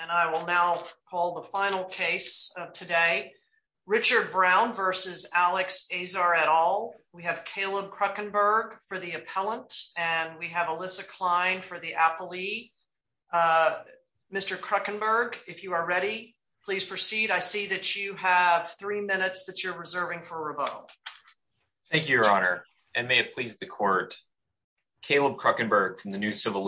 and I will now call the final case of today. Richard Brown versus Alex Azar et al. We have Caleb Kruckenberg for the appellant and we have Alyssa Klein for the appellee. Mr. Kruckenberg, if you are ready, please proceed. I see that you have three minutes that you're reserving for revote. Thank you, your honor, and may it please the court. Caleb Kruckenberg from the New Civil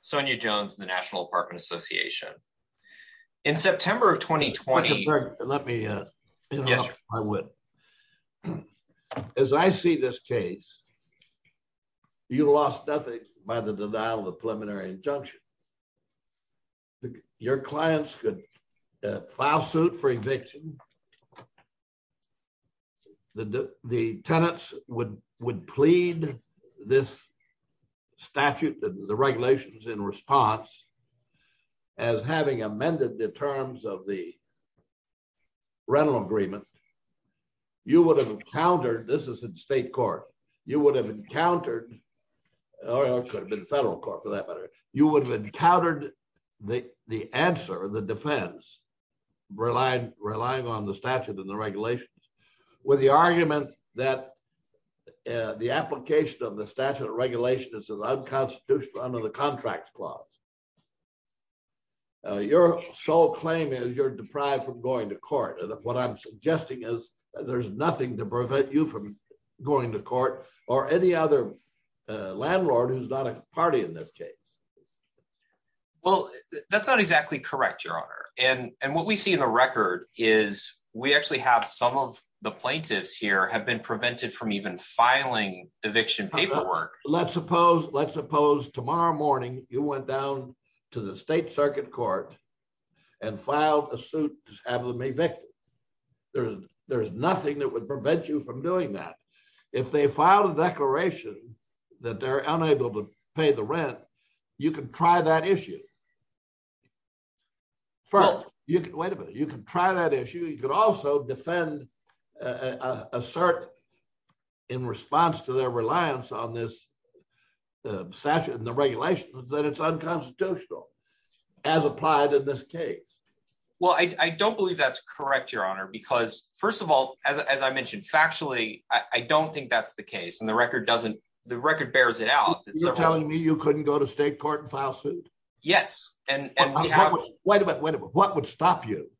Sonya Jones and the National Apartment Association. In September of 2020. Let me, yes, I would. As I see this case, you lost nothing by the denial of preliminary injunction. Your clients could file suit for eviction. The tenants would plead this statute, the regulations in response, as having amended the terms of the rental agreement, you would have encountered, this is in state court, you would have encountered, or it could have been federal court for that matter, you would have encountered the answer, the defense, relying on the statute and the regulations, with the argument that the application of the statute of regulations is unconstitutional under the contract clause. Your sole claim is you're deprived from going to court, and what I'm suggesting is there's nothing to prevent you from going to court or any other landlord who's not a party in this case. That's not exactly correct, your honor, and what we see in the record is we actually have some of the plaintiffs here have been prevented from even filing eviction paperwork. Let's suppose tomorrow morning you went down to the state circuit court and filed a suit to have them evicted. There's nothing that would prevent you from doing that. If they filed a declaration that they're unable to pay the rent, you can try that issue. First, you can, wait a minute, you can try that issue. You could also defend a cert in response to their reliance on this statute and the regulations that it's unconstitutional as applied in this case. Well, I don't believe that's correct, your honor, because first of all, as I mentioned factually, I don't think that's the case, and the record doesn't, the record bears it out. You're telling me you couldn't go to state court and file suit? Yes, and we have. Wait a minute, what would stop you?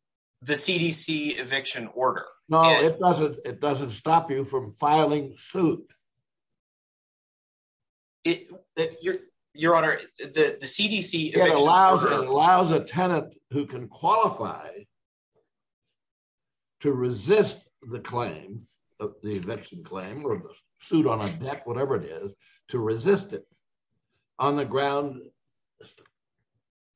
The CDC eviction order. No, it doesn't. It doesn't stop you from filing suit. Your honor, the CDC. It allows a tenant who can qualify to resist the claims of the eviction claim or the suit on a deck, whatever it is, to resist it on the ground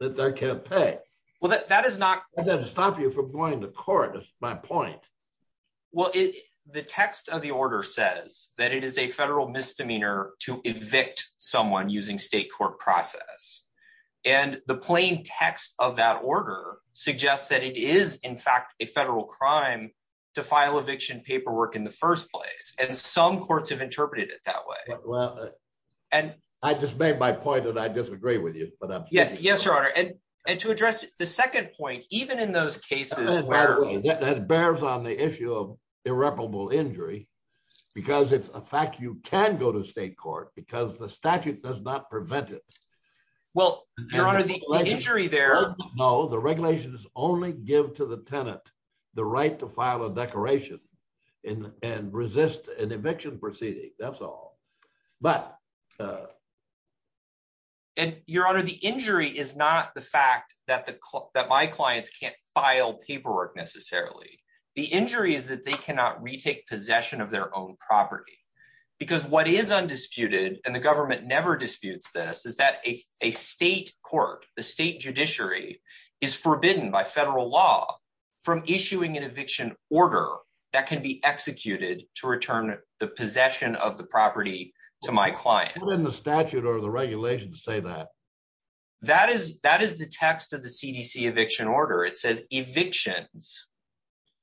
that they can't pay. Well, that is not. That doesn't stop you from going to court, that's my point. Well, the text of the order says that it is a federal misdemeanor to evict someone using state court process, and the plain text of that order suggests that it is in fact a federal crime to file eviction paperwork in the first place, and some courts have interpreted it that way. Well, I just made my point and I disagree with you. Yes, your honor, and to address the second point, even in those cases where. That bears on the issue of irreparable injury, because it's a fact you can go to state court because the statute does not prevent it. Well, your honor, the injury there. No, the regulations only give to the tenant the right to file a declaration and resist an eviction proceeding. That's all, but. And your honor, the injury is not the fact that my clients can't file paperwork necessarily. The injury is that they cannot retake possession of their own property, because what is undisputed, and the government never disputes this, is that a state court, the state judiciary, is forbidden by federal law from issuing an eviction order that can be executed to return the possession of the property to my client. Well, what is the statute or the regulation to say that? That is the text of the CDC eviction order. It says evictions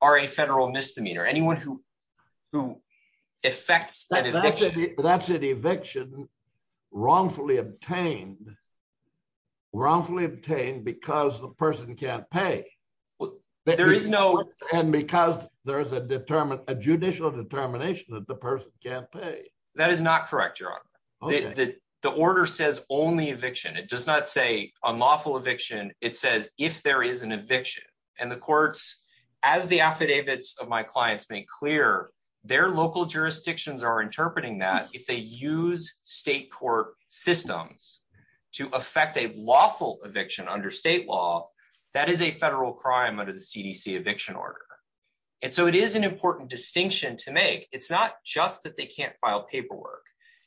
are a federal misdemeanor. Anyone who who affects that. That's an eviction wrongfully obtained, wrongfully obtained because the person can't pay. There is no. And because there is a determined, a judicial determination that the person can't pay. That is not correct, your honor. The order says only eviction. It does not say unlawful eviction. It says if there is an eviction. And the courts, as the affidavits of my clients make clear, their local jurisdictions are interpreting that if they use state court systems to affect a lawful eviction under state law, that is a federal crime under the CDC eviction order. And so it is an important distinction to make. It's not just that they can't file paperwork.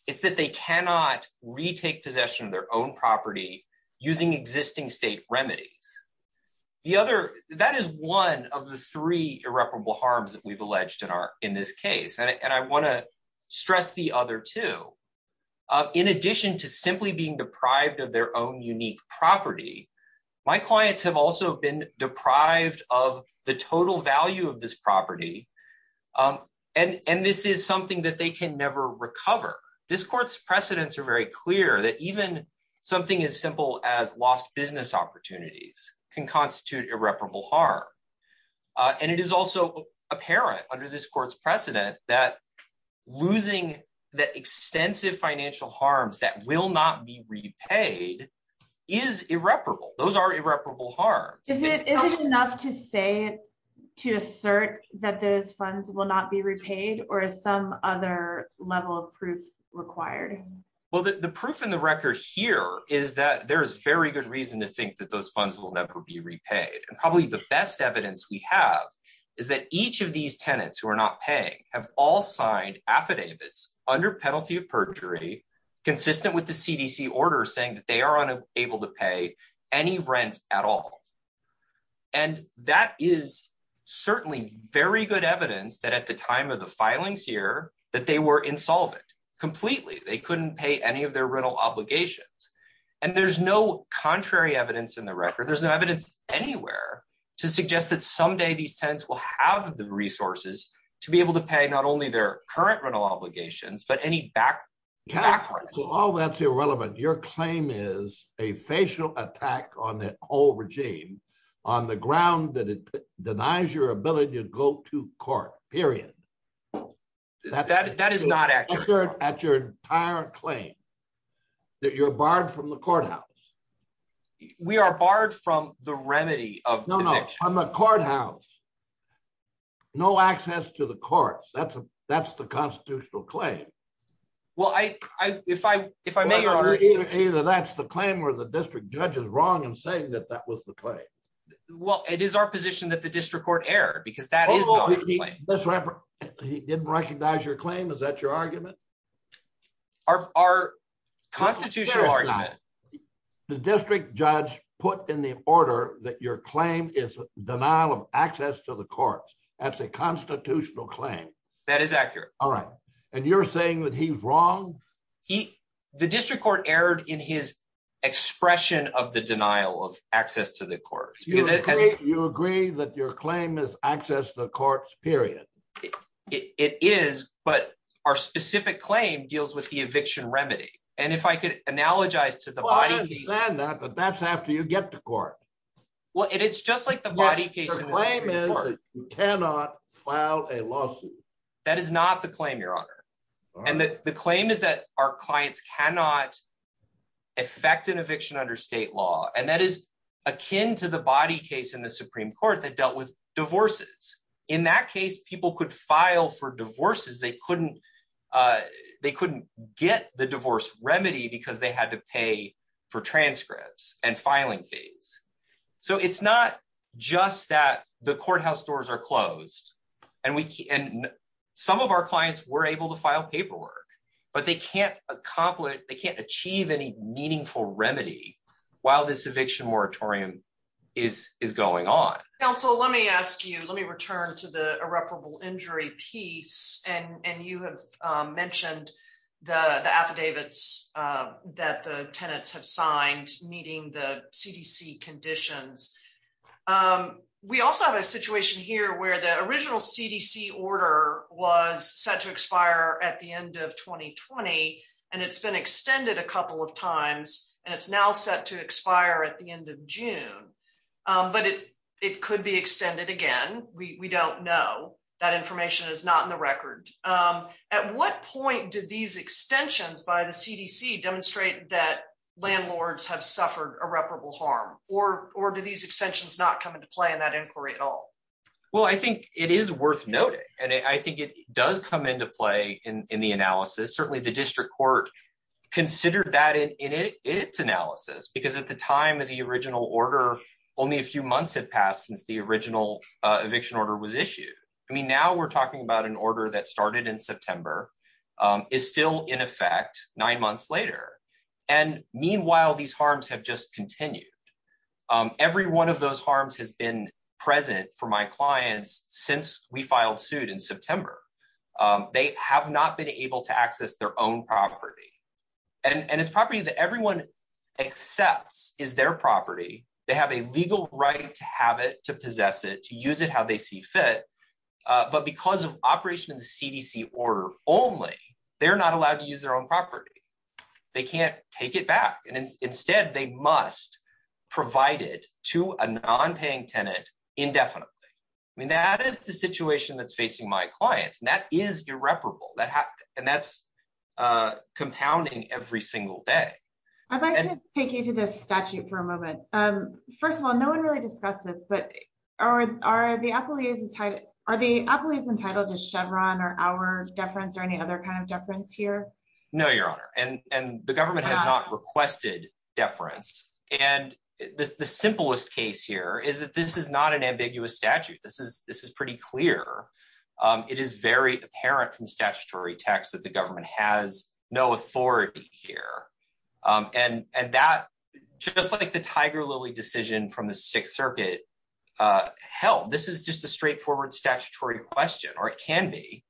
It's that they cannot retake possession of their own property using existing state remedies. The other that is one of the three irreparable harms that we've alleged in our in this case. And I want to stress the other two. In addition to simply being deprived of their own unique property, my clients have also been deprived of the total value of this property. And and this is something that they can never recover. This court's precedents are very clear that even something as simple as lost business opportunities can constitute irreparable harm. And it is also apparent under this court's precedent that losing the extensive financial harms that will not be repaid is irreparable. Those are irreparable harm. Is it enough to say to assert that those funds will not be repaid or some other level of proof required? Well, the proof in the record here is that there is very good reason to think that those funds will never be repaid. And probably the best evidence we have is that each of these tenants who are not paying have all signed affidavits under penalty of perjury consistent with the CDC order saying that they are unable to pay any rent at all. And that is certainly very good evidence that at the time of the filings here, that they were insolvent completely. They couldn't pay any of their rental obligations. And there's no contrary evidence in the record. There's no evidence anywhere to suggest that someday these tenants will have the resources to be able to pay only their current rental obligations, but any back. So all that's irrelevant. Your claim is a facial attack on the whole regime on the ground that it denies your ability to go to court, period. That is not accurate at your entire claim that you're barred from the courthouse. We are barred from the remedy of the courthouse. No access to the courts. That's that's the constitutional claim. Well, I if I if I may, either that's the claim where the district judge is wrong and saying that that was the play. Well, it is our position that the district court error because that is he didn't recognize your claim. Is that your argument? Our our constitutional argument, the district judge put in the order that your claim is denial of access to the courts. That's a constitutional claim. That is accurate. All right. And you're saying that he's wrong. He the district court erred in his expression of the denial of access to the courts. You agree that your claim is access to the courts, period. It is. But our specific claim deals with the eviction remedy. And if I could analogize to that, but that's after you get to court. Well, it's just like the body case. You cannot file a lawsuit. That is not the claim, your honor. And the claim is that our clients cannot affect an eviction under state law. And that is akin to the body case in the Supreme Court that dealt with divorces. In that case, people could file for divorces. They couldn't they couldn't get the divorce remedy because they had to pay for transcripts and filing fees. So it's not just that the courthouse doors are closed and we and some of our clients were able to file paperwork, but they can't accomplish they can't achieve any meaningful remedy while this eviction moratorium is is going on. Counsel, let me ask you, let me return to the irreparable injury piece. And you have mentioned the affidavits that the tenants have signed meeting the CDC conditions. We also have a situation here where the original CDC order was set to expire at the end of 2020, and it's been extended a couple of times and it's now set to expire at the end of June. But it it could be extended again. We don't know that information is not in the record. At what point did these extensions by the CDC demonstrate that landlords have suffered irreparable harm or or do these extensions not come into play in that inquiry at all? Well, I think it is worth noting, and I think it does come into play in the analysis. Certainly, the district court considered that in its analysis, because at the time of the original order, only a few months have passed since the original eviction order was issued. I mean, now we're talking about an order that started in September is still in effect nine months later. And meanwhile, these harms have just continued. Every one of those harms has been present for my clients since we filed suit in September. They have not been able to access their own property and its property that everyone accepts is their property. They have a legal right to have it, to possess it, to use it how they see fit. But because of operation in the CDC order only, they're not allowed to use their own property. They can't take it back. And instead, they must provide it to a nonpaying tenant indefinitely. I mean, that is the situation that's facing my clients. And that is irreparable. And that's compounding every single day. I'd like to take you to the statute for a moment. First of all, no one really discussed this, but are the appellees entitled to Chevron or our deference or any other kind of deference here? No, Your Honor. And the government has not requested deference. And the simplest case here is that this is not an ambiguous statute. This is pretty clear. It is very apparent from statutory text that the government has no authority here. And just like the Tiger Lily decision from the Sixth Circuit, hell, this is just a straightforward statutory question, or it can be.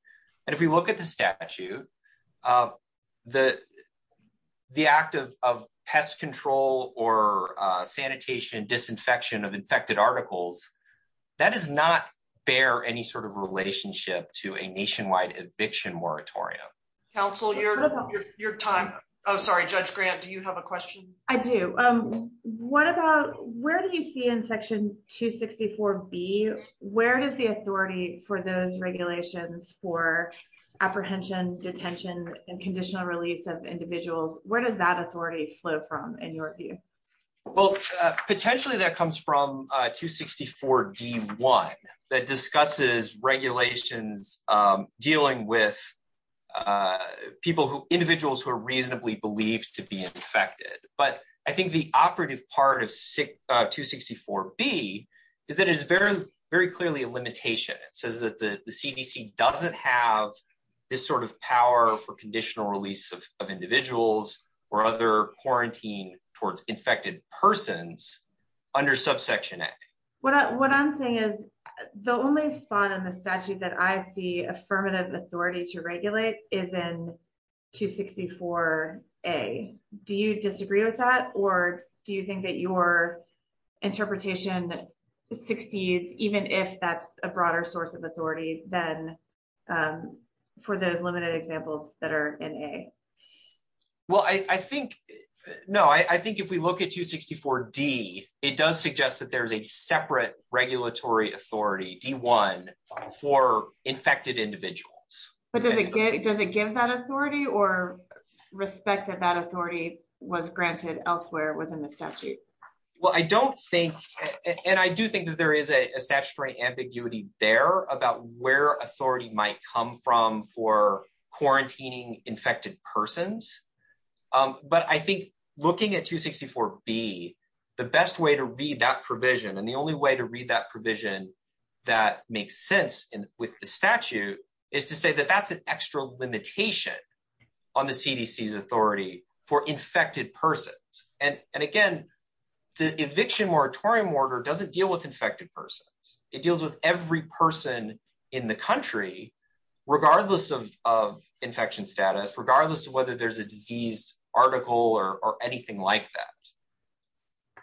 And if we look at the statute, the act of pest control or sanitation disinfection of infected articles, that does not bear any sort of relationship to a nationwide eviction moratorium. Counsel, your time. I'm sorry, Judge Grant, do you have a question? I do. Where do you see in Section 264B, where does the authority for those regulations for apprehension, detention, and conditional release of individuals, where does that authority flow from in your view? Well, potentially that comes from 264D1 that discusses regulations dealing with individuals who are reasonably believed to be infected. But I think the operative part of 264B is that it's very clearly a limitation. It says that the CDC doesn't have this sort of power for conditional release of individuals or other quarantine towards infected persons under subsection A. What I'm saying is the only spot in the statute that I see affirmative authority to regulate is in 264A. Do you disagree with that? Or do you think that your interpretation succeeds even if that's a broader source of authority than for those limited examples that are in A? Well, I think, no, I think if we look at 264D, it does suggest that there's a separate regulatory authority, D1, for infected individuals. But does it give that authority or respect that that authority was granted elsewhere within the statute? Well, I don't think, and I do think that there is a statutory ambiguity there about where authority might come from for quarantining infected persons. But I think looking at 264B, the best way to read that provision, and the only way to read that provision that makes sense with the statute, is to say that that's an extra limitation on the CDC's authority for infected persons. And again, the eviction moratorium order doesn't deal with infected persons. It deals with every person in the country, regardless of infection status, regardless of whether there's a diseased article or anything like that.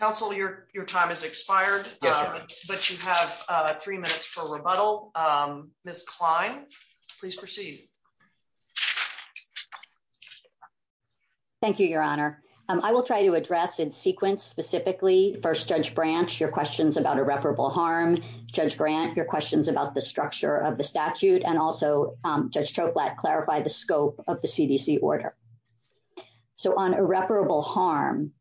Counsel, your time has expired, but you have three minutes for rebuttal. Ms. Klein, please proceed. Thank you, Your Honor. I will try to address in sequence specifically, first, Judge Branch, your questions about irreparable harm. Judge Grant, your questions about the structure of CDC order. So on irreparable harm,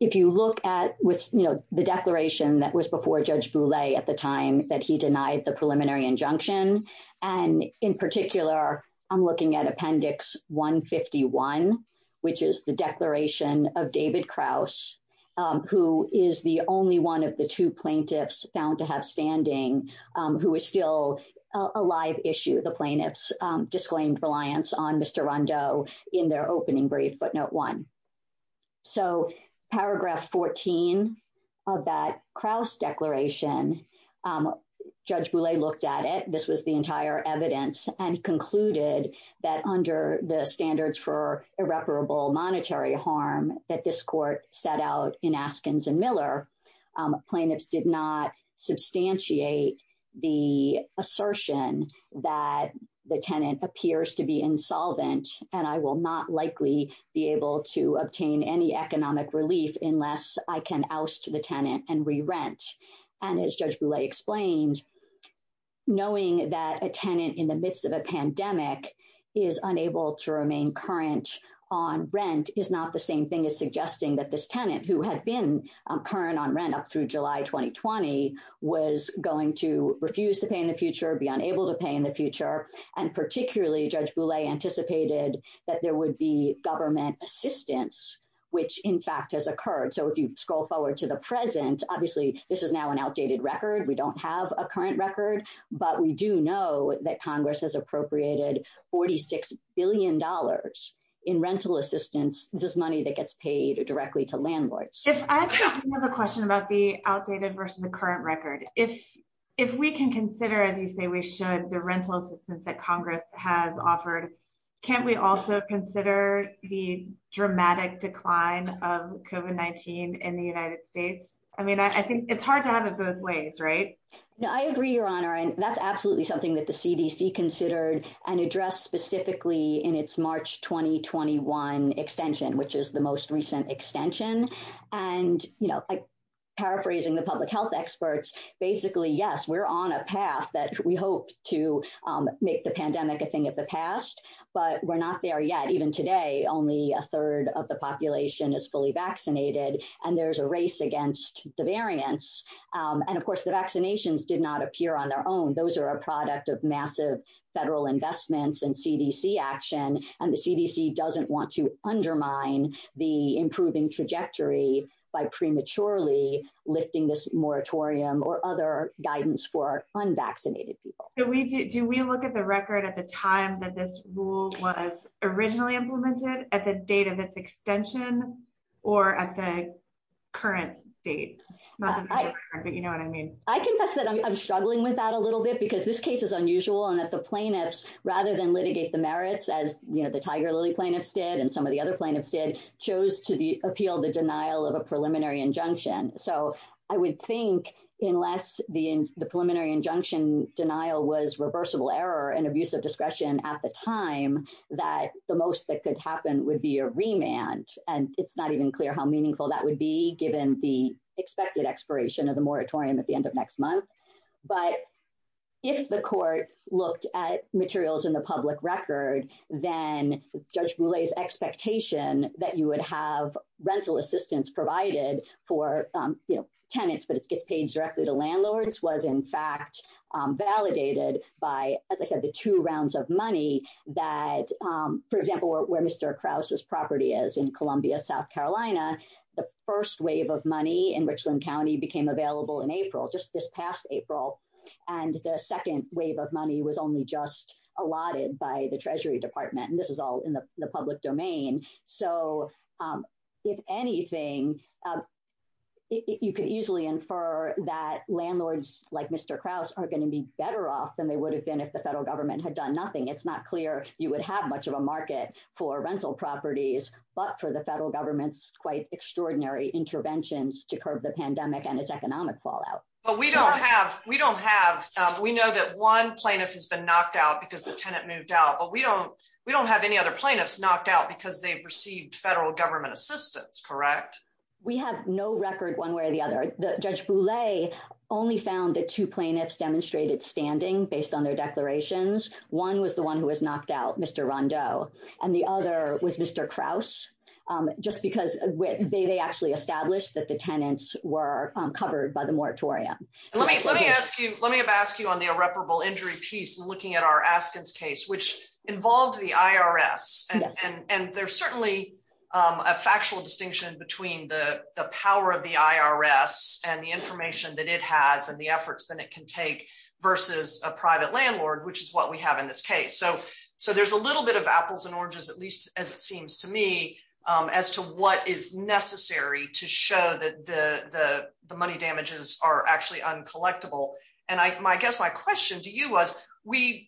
if you look at the declaration that was before Judge Boulay at the time that he denied the preliminary injunction, and in particular, I'm looking at Appendix 151, which is the declaration of David Krause, who is the only one of the two plaintiffs found to have standing, who is still a live issue. The plaintiffs disclaimed reliance on Mr. Rondeau in their opening brief, footnote one. So paragraph 14 of that Krause declaration, Judge Boulay looked at it, this was the entire evidence, and he concluded that under the standards for irreparable monetary harm that this court set out in Askins and Miller, plaintiffs did not substantiate the assertion that the tenant appears to be insolvent, and I will not likely be able to obtain any economic relief unless I can oust the tenant and re-rent. And as Judge Boulay explained, knowing that a tenant in the midst of a pandemic is unable to remain current on rent is not the same thing as suggesting that this tenant, who had been current on rent up through July 2020, was going to refuse to pay in the future, be unable to pay in the future, and particularly, Judge Boulay anticipated that there would be government assistance, which in fact has occurred. So if you scroll forward to the present, obviously this is now an outdated record, we don't have a current record, but we do know that Congress has appropriated 46 billion dollars in rental assistance, this money that gets paid directly to landlords. If I have a question about the outdated versus the current record, if we can consider, as you say we should, the rental assistance that Congress has offered, can't we also consider the dramatic decline of COVID-19 in the United States? I mean, I think it's hard to have it both ways, right? No, I agree, Your Honor, and that's absolutely something that the CDC considered and addressed specifically in its March 2021 extension, which is the most recent extension. And, you know, paraphrasing the public health experts, basically yes, we're on a path that we hope to make the pandemic a thing of the past, but we're not there yet. Even today, only a third of the population is fully vaccinated and there's a race against the variants, and of course the vaccinations did not appear on their own. Those are a product of massive federal investments and CDC action, and the CDC doesn't want to undermine the improving trajectory by prematurely lifting this moratorium or other guidance for unvaccinated people. Do we look at the record at the time that this rule was originally implemented, at the date of its extension, or at the current date? But you know what I mean. I confess that I'm struggling with that a little bit because this case is unusual and that the plaintiffs, rather than litigate the merits as, you know, the Tiger Lily plaintiffs did and some of the other plaintiffs did, chose to appeal the denial of a preliminary injunction. So I would think unless the preliminary injunction denial was reversible error and abuse of discretion at the time, that the most that could happen would be a remand, and it's not even clear how meaningful that would be given the expected expiration of the moratorium at the end of next month. But if the court looked at materials in the public record, then Judge Boulay's expectation that you would have rental assistance provided for tenants, but it gets paid directly to landlords, was in fact validated by, as I said, the two rounds of money that, for example, where Mr. Krause's property is in Columbia, South Carolina, the first wave of money in Richland County became available in April, just this past April, and the second wave of money was only just allotted by the Treasury Department, and this is in the public domain. So if anything, you could easily infer that landlords like Mr. Krause are going to be better off than they would have been if the federal government had done nothing. It's not clear you would have much of a market for rental properties, but for the federal government's quite extraordinary interventions to curb the pandemic and its economic fallout. But we don't have, we don't have, we know that one plaintiff has been knocked out because the plaintiffs knocked out because they received federal government assistance, correct? We have no record one way or the other. Judge Boulay only found that two plaintiffs demonstrated standing based on their declarations. One was the one who was knocked out, Mr. Rondeau, and the other was Mr. Krause, just because they actually established that the tenants were covered by the moratorium. Let me ask you, let me have asked you on the irreparable injury piece and looking at our Askins case, which involved the IRS. And there's certainly a factual distinction between the power of the IRS and the information that it has and the efforts that it can take versus a private landlord, which is what we have in this case. So there's a little bit of apples and oranges, at least as it seems to me, as to what is necessary to show that the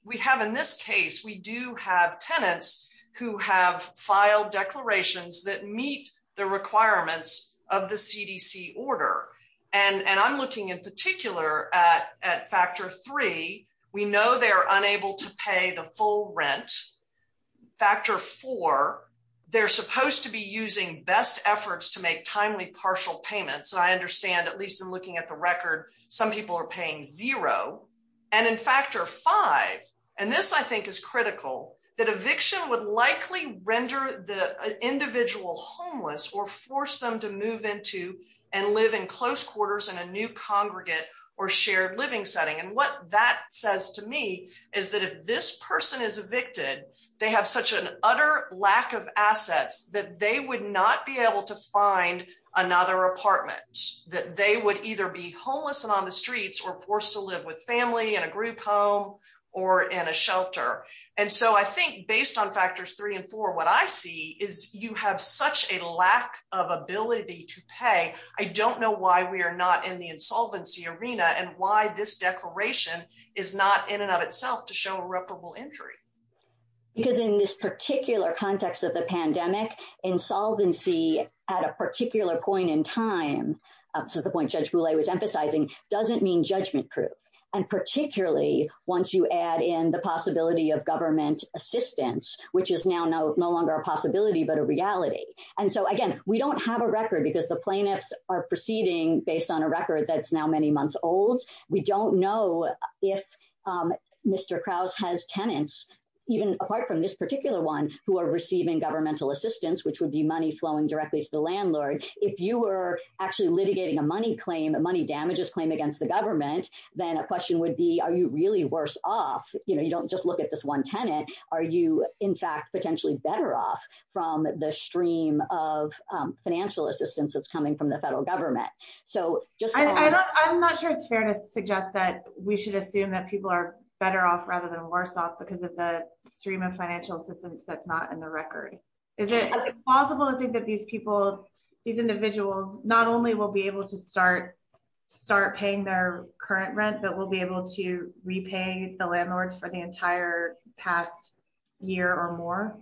we have in this case, we do have tenants who have filed declarations that meet the requirements of the CDC order. And I'm looking in particular at factor three, we know they're unable to pay the full rent. Factor four, they're supposed to be using best efforts to make timely partial payments. And I understand, at least in looking at the record, some people are paying zero. And in factor five, and this I think is critical, that eviction would likely render the individual homeless or force them to move into and live in close quarters in a new congregate or shared living setting. And what that says to me is that if this person is evicted, they have such an utter lack of assets that they would not be able to find another apartment, that they would either be homeless and on the streets or forced to live with family in a group home, or in a shelter. And so I think based on factors three and four, what I see is you have such a lack of ability to pay. I don't know why we are not in the insolvency arena and why this declaration is not in and of itself to show irreparable injury. Because in this particular context of the pandemic, insolvency at a particular point in time, this is the point Judge Boulay was emphasizing, doesn't mean judgment proof. And particularly once you add in the possibility of government assistance, which is now no longer a possibility but a reality. And so again, we don't have a record because the plaintiffs are proceeding based on a record that's now many months old. We don't know if Mr. Krause has tenants, even apart from this particular one, who are receiving governmental assistance, which would be money flowing directly to the landlord. If you were actually litigating a money damages claim against the government, then a question would be, are you really worse off? You don't just look at this one tenant. Are you, in fact, potentially better off from the stream of financial assistance that's coming from the federal government? I'm not sure it's fair to suggest that we should assume that people are off rather than worse off because of the stream of financial assistance that's not in the record. Is it possible to think that these people, these individuals, not only will be able to start paying their current rent, but will be able to repay the landlords for the entire past year or more?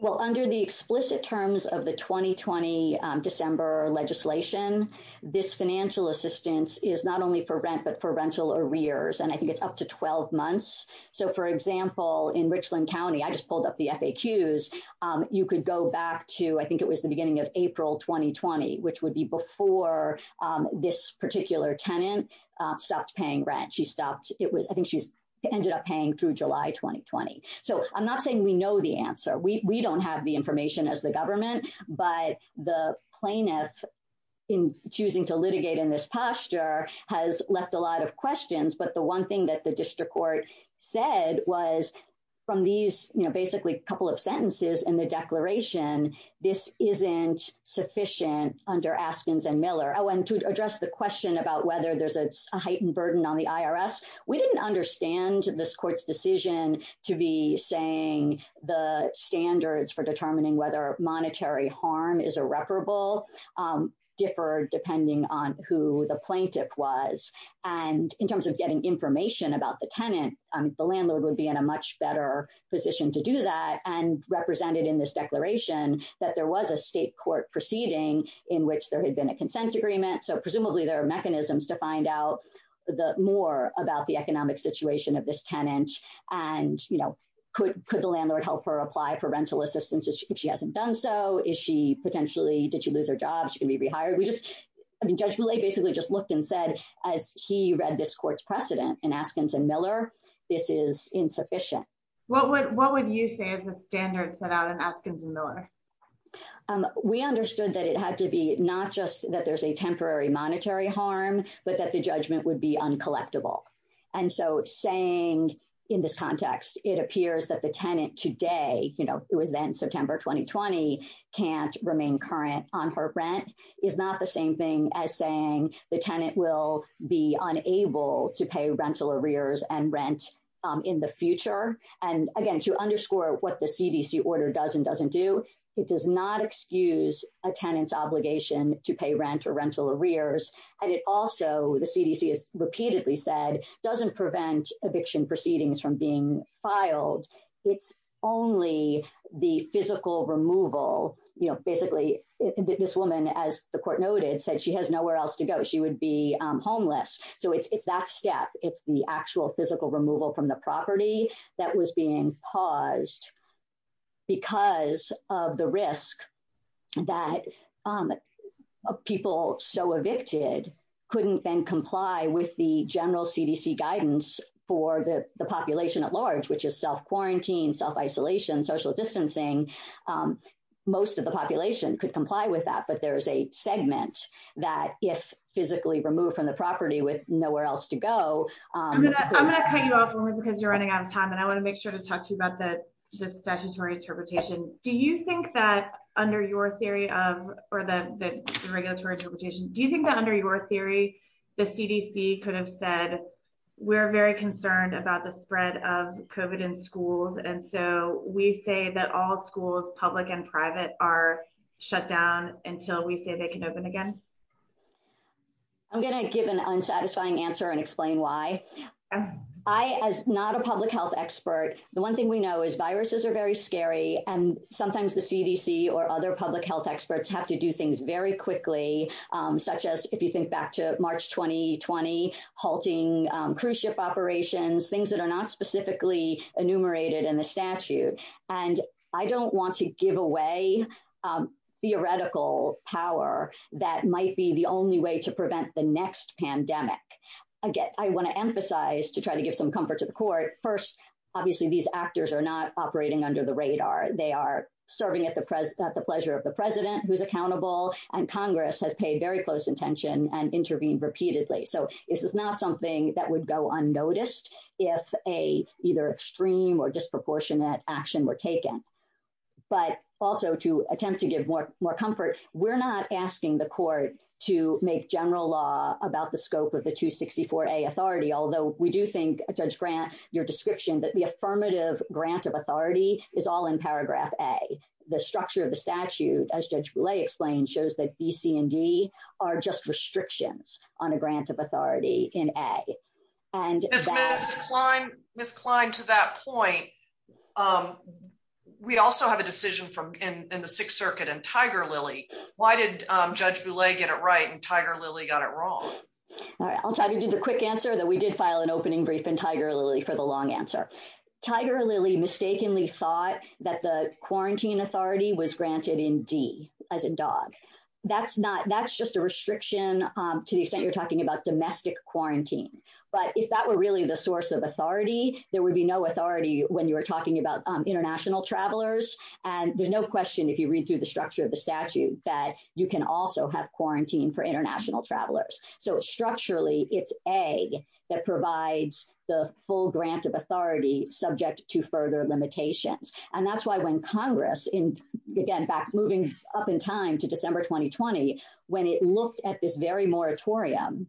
Well, under the explicit terms of the 2020 December legislation, this financial assistance is not only for rent but for rental arrears. I think it's up to 12 months. For example, in Richland County, I just pulled up the FAQs, you could go back to, I think it was the beginning of April 2020, which would be before this particular tenant stopped paying rent. I think she ended up paying through July 2020. I'm not saying we know the answer. We don't have the information as the has left a lot of questions, but the one thing that the district court said was from these, basically, a couple of sentences in the declaration, this isn't sufficient under Askins and Miller. To address the question about whether there's a heightened burden on the IRS, we didn't understand this court's decision to be saying the standards for determining whether monetary harm is irreparable differ depending on who the plaintiff was. In terms of getting information about the tenant, the landlord would be in a much better position to do that and represented in this declaration that there was a state court proceeding in which there had been a consent agreement. Presumably, there are mechanisms to find out more about the economic situation of this tenant. Could the landlord help her apply for rental assistance if she hasn't done so? Did she lose her job? Is she going to be rehired? Judge Millay basically just looked and said, as he read this court's precedent in Askins and Miller, this is insufficient. What would you say is the standard set out in Askins and Miller? We understood that it had to be not just that there's a temporary monetary harm, but that the judgment would be uncollectible. Saying in this context, it appears that the tenant today, it was then September 2020, can't remain current on her rent is not the same thing as saying the tenant will be unable to pay rental arrears and rent in the future. Again, to underscore what the CDC order does and doesn't do, it does not excuse a tenant's obligation to pay rent or the CDC has repeatedly said, doesn't prevent eviction proceedings from being filed. It's only the physical removal. Basically, this woman, as the court noted, said she has nowhere else to go. She would be homeless. It's that step. It's the actual physical removal from the property that was being paused because of the risk that people so evicted couldn't then comply with the general CDC guidance for the population at large, which is self-quarantine, self-isolation, social distancing. Most of the population could comply with that, but there's a segment that if physically removed from the property with nowhere else to go- I want to make sure to talk to you about the statutory interpretation. Do you think that under your theory of the regulatory interpretation, do you think that under your theory, the CDC could have said, we're very concerned about the spread of COVID in schools and so we say that all schools, public and private, are shut down until we say they can open again? I'm going to give an unsatisfying answer and explain why. I, as not a public health expert, the one thing we know is viruses are very scary and sometimes the CDC or other public health experts have to do things very quickly, such as if you think back to March 2020, halting cruise ship operations, things that are not specifically enumerated in the statute. I don't want to give away theoretical power that might be the only way to prevent the next pandemic. I want to emphasize, to try to give some comfort to the court, first, obviously these actors are not operating under the radar. They are serving at the pleasure of the president who's accountable and Congress has paid very close attention and intervened repeatedly. This is not something that would go unnoticed if a either extreme or disproportionate action were taken. But also to attempt to give more comfort, we're not asking the court to make general law about the scope of the 264A authority, although we do think, Judge Grant, your description that the affirmative grant of authority is all in paragraph A. The structure of the statute, as Judge Boulay explained, shows that B, C, and D are just restrictions on a grant of authority in A. Ms. Klein, to that point, we also have a decision in the Sixth Circuit in Tiger-Lily. Why did Judge Boulay get it right and Tiger-Lily got it wrong? I'll try to do the quick answer that we did file an opening brief in Tiger-Lily for the long answer. Tiger-Lily mistakenly thought that the quarantine authority was granted in D, as in dog. That's just a restriction to the extent you're talking about domestic quarantine. But if that were really the source of authority, there would be no authority when you were talking about international travelers. And there's no question if you read through the structure of the statute that you can also have quarantine for international travelers. So structurally, it's A that provides the full grant of authority subject to further limitations. And that's why when Congress, moving up in time to December 2020, when it looked at this very moratorium,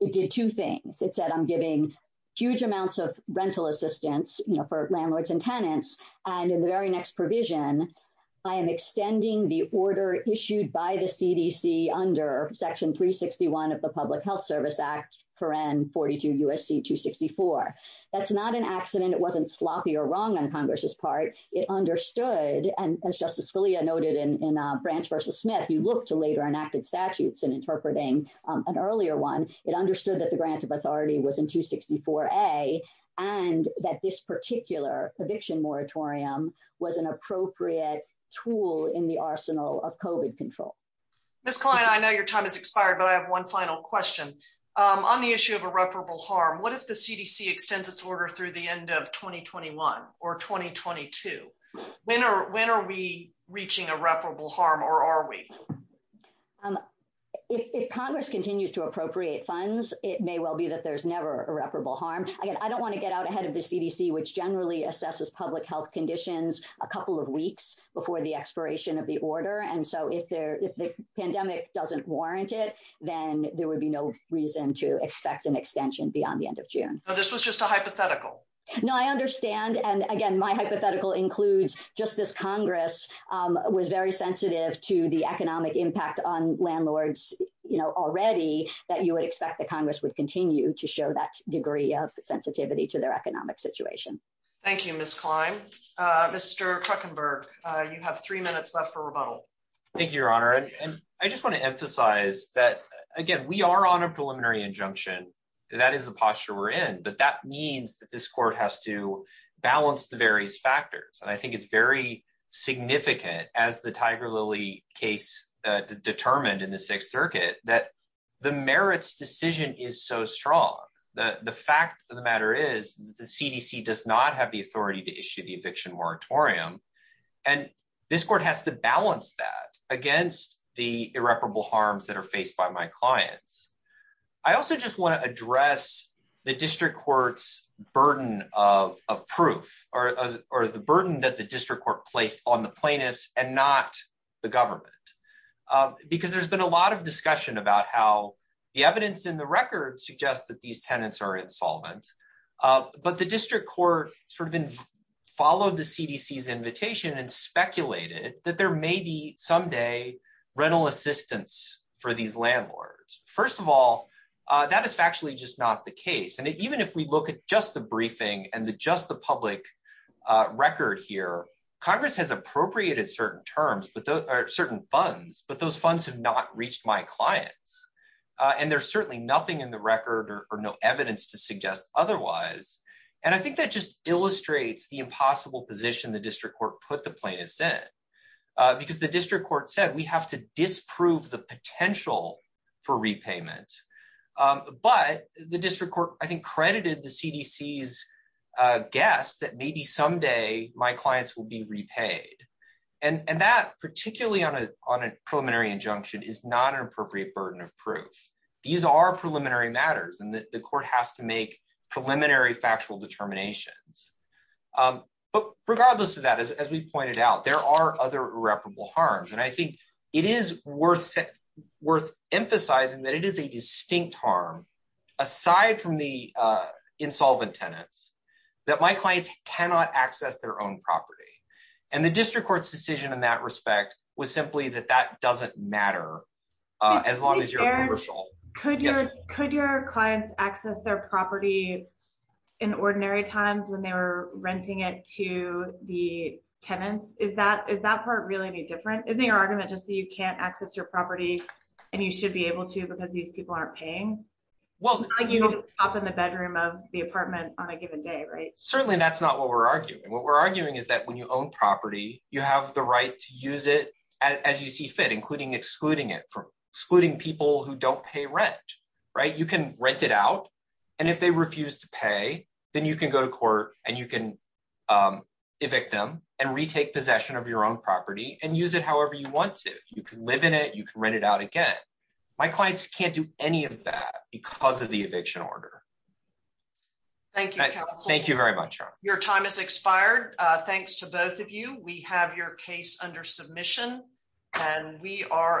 it did two things. It said, I'm giving huge amounts of rental assistance for landlords and tenants. And in the very next provision, I am extending the order issued by the CDC under section 361 of the Public Health Service Act, 42 U.S.C. 264. That's not an accident. It wasn't sloppy or wrong on Congress's part. It understood, and as Justice Scalia noted in Branch v. Smith, you look to later enacted statutes and interpreting an earlier one. It understood that the grant of authority was in 264A and that this particular eviction moratorium was an appropriate tool in the arsenal of COVID control. Ms. Klein, I know your time has expired, but I have one final question. On the issue of irreparable harm, what if the CDC extends its order through the end of 2021 or 2022? When are we reaching irreparable harm or are we? If Congress continues to appropriate funds, it may well be that there's never irreparable harm. Again, I don't want to get out ahead of the CDC, which generally assesses health conditions a couple of weeks before the expiration of the order. And so if the pandemic doesn't warrant it, then there would be no reason to expect an extension beyond the end of June. This was just a hypothetical. No, I understand. And again, my hypothetical includes just as Congress was very sensitive to the economic impact on landlords already, that you would expect the Congress would continue to show that degree of sensitivity to their economic situation. Thank you, Ms. Klein. Mr. Kruckenberg, you have three minutes left for rebuttal. Thank you, Your Honor. And I just want to emphasize that, again, we are on a preliminary injunction. That is the posture we're in. But that means that this court has to balance the various factors. And I think it's very significant, as the Tiger Lily case determined in the Sixth Circuit, that the merits decision is so strong that the fact of the matter is the CDC does not have the authority to issue the eviction moratorium. And this court has to balance that against the irreparable harms that are faced by my clients. I also just want to address the district court's burden of proof, or the burden that the district court placed on the plaintiffs and not the government. Because there's been a lot of discussion about how the evidence in the district court sort of followed the CDC's invitation and speculated that there may be someday rental assistance for these landlords. First of all, that is factually just not the case. And even if we look at just the briefing and just the public record here, Congress has appropriated certain funds, but those funds have not reached my clients. And there's certainly nothing in the record or no evidence to suggest otherwise. And I think that just illustrates the impossible position the district court put the plaintiffs in. Because the district court said, we have to disprove the potential for repayment. But the district court, I think, credited the CDC's guess that maybe someday my clients will be repaid. And that, particularly on a preliminary injunction, is not an appropriate burden of proof. These are preliminary matters, and the court has to make preliminary factual determinations. But regardless of that, as we pointed out, there are other irreparable harms. And I think it is worth emphasizing that it is a distinct harm, aside from the insolvent tenants, that my clients cannot access their own property. And the district court's decision in that respect was simply that that doesn't matter, as long as you're a commercial. Could your clients access their property in ordinary times when they were renting it to the tenants? Is that part really any different? Isn't your argument just that you can't access your property, and you should be able to because these people aren't paying? It's not like you can just pop in the bedroom of the apartment on a given day, right? Certainly that's not what we're arguing. What we're arguing is that when you own property, you have the right to use it as you see fit, including excluding it from excluding people who don't pay rent, right? You can rent it out, and if they refuse to pay, then you can go to court, and you can evict them, and retake possession of your own property, and use it however you want to. You can live in it. You can rent it out again. My clients can't do any of that because of the eviction order. Thank you, counsel. Thank you very much. Your time has expired. Thanks to both of you. We have your case under submission, and we are adjourned.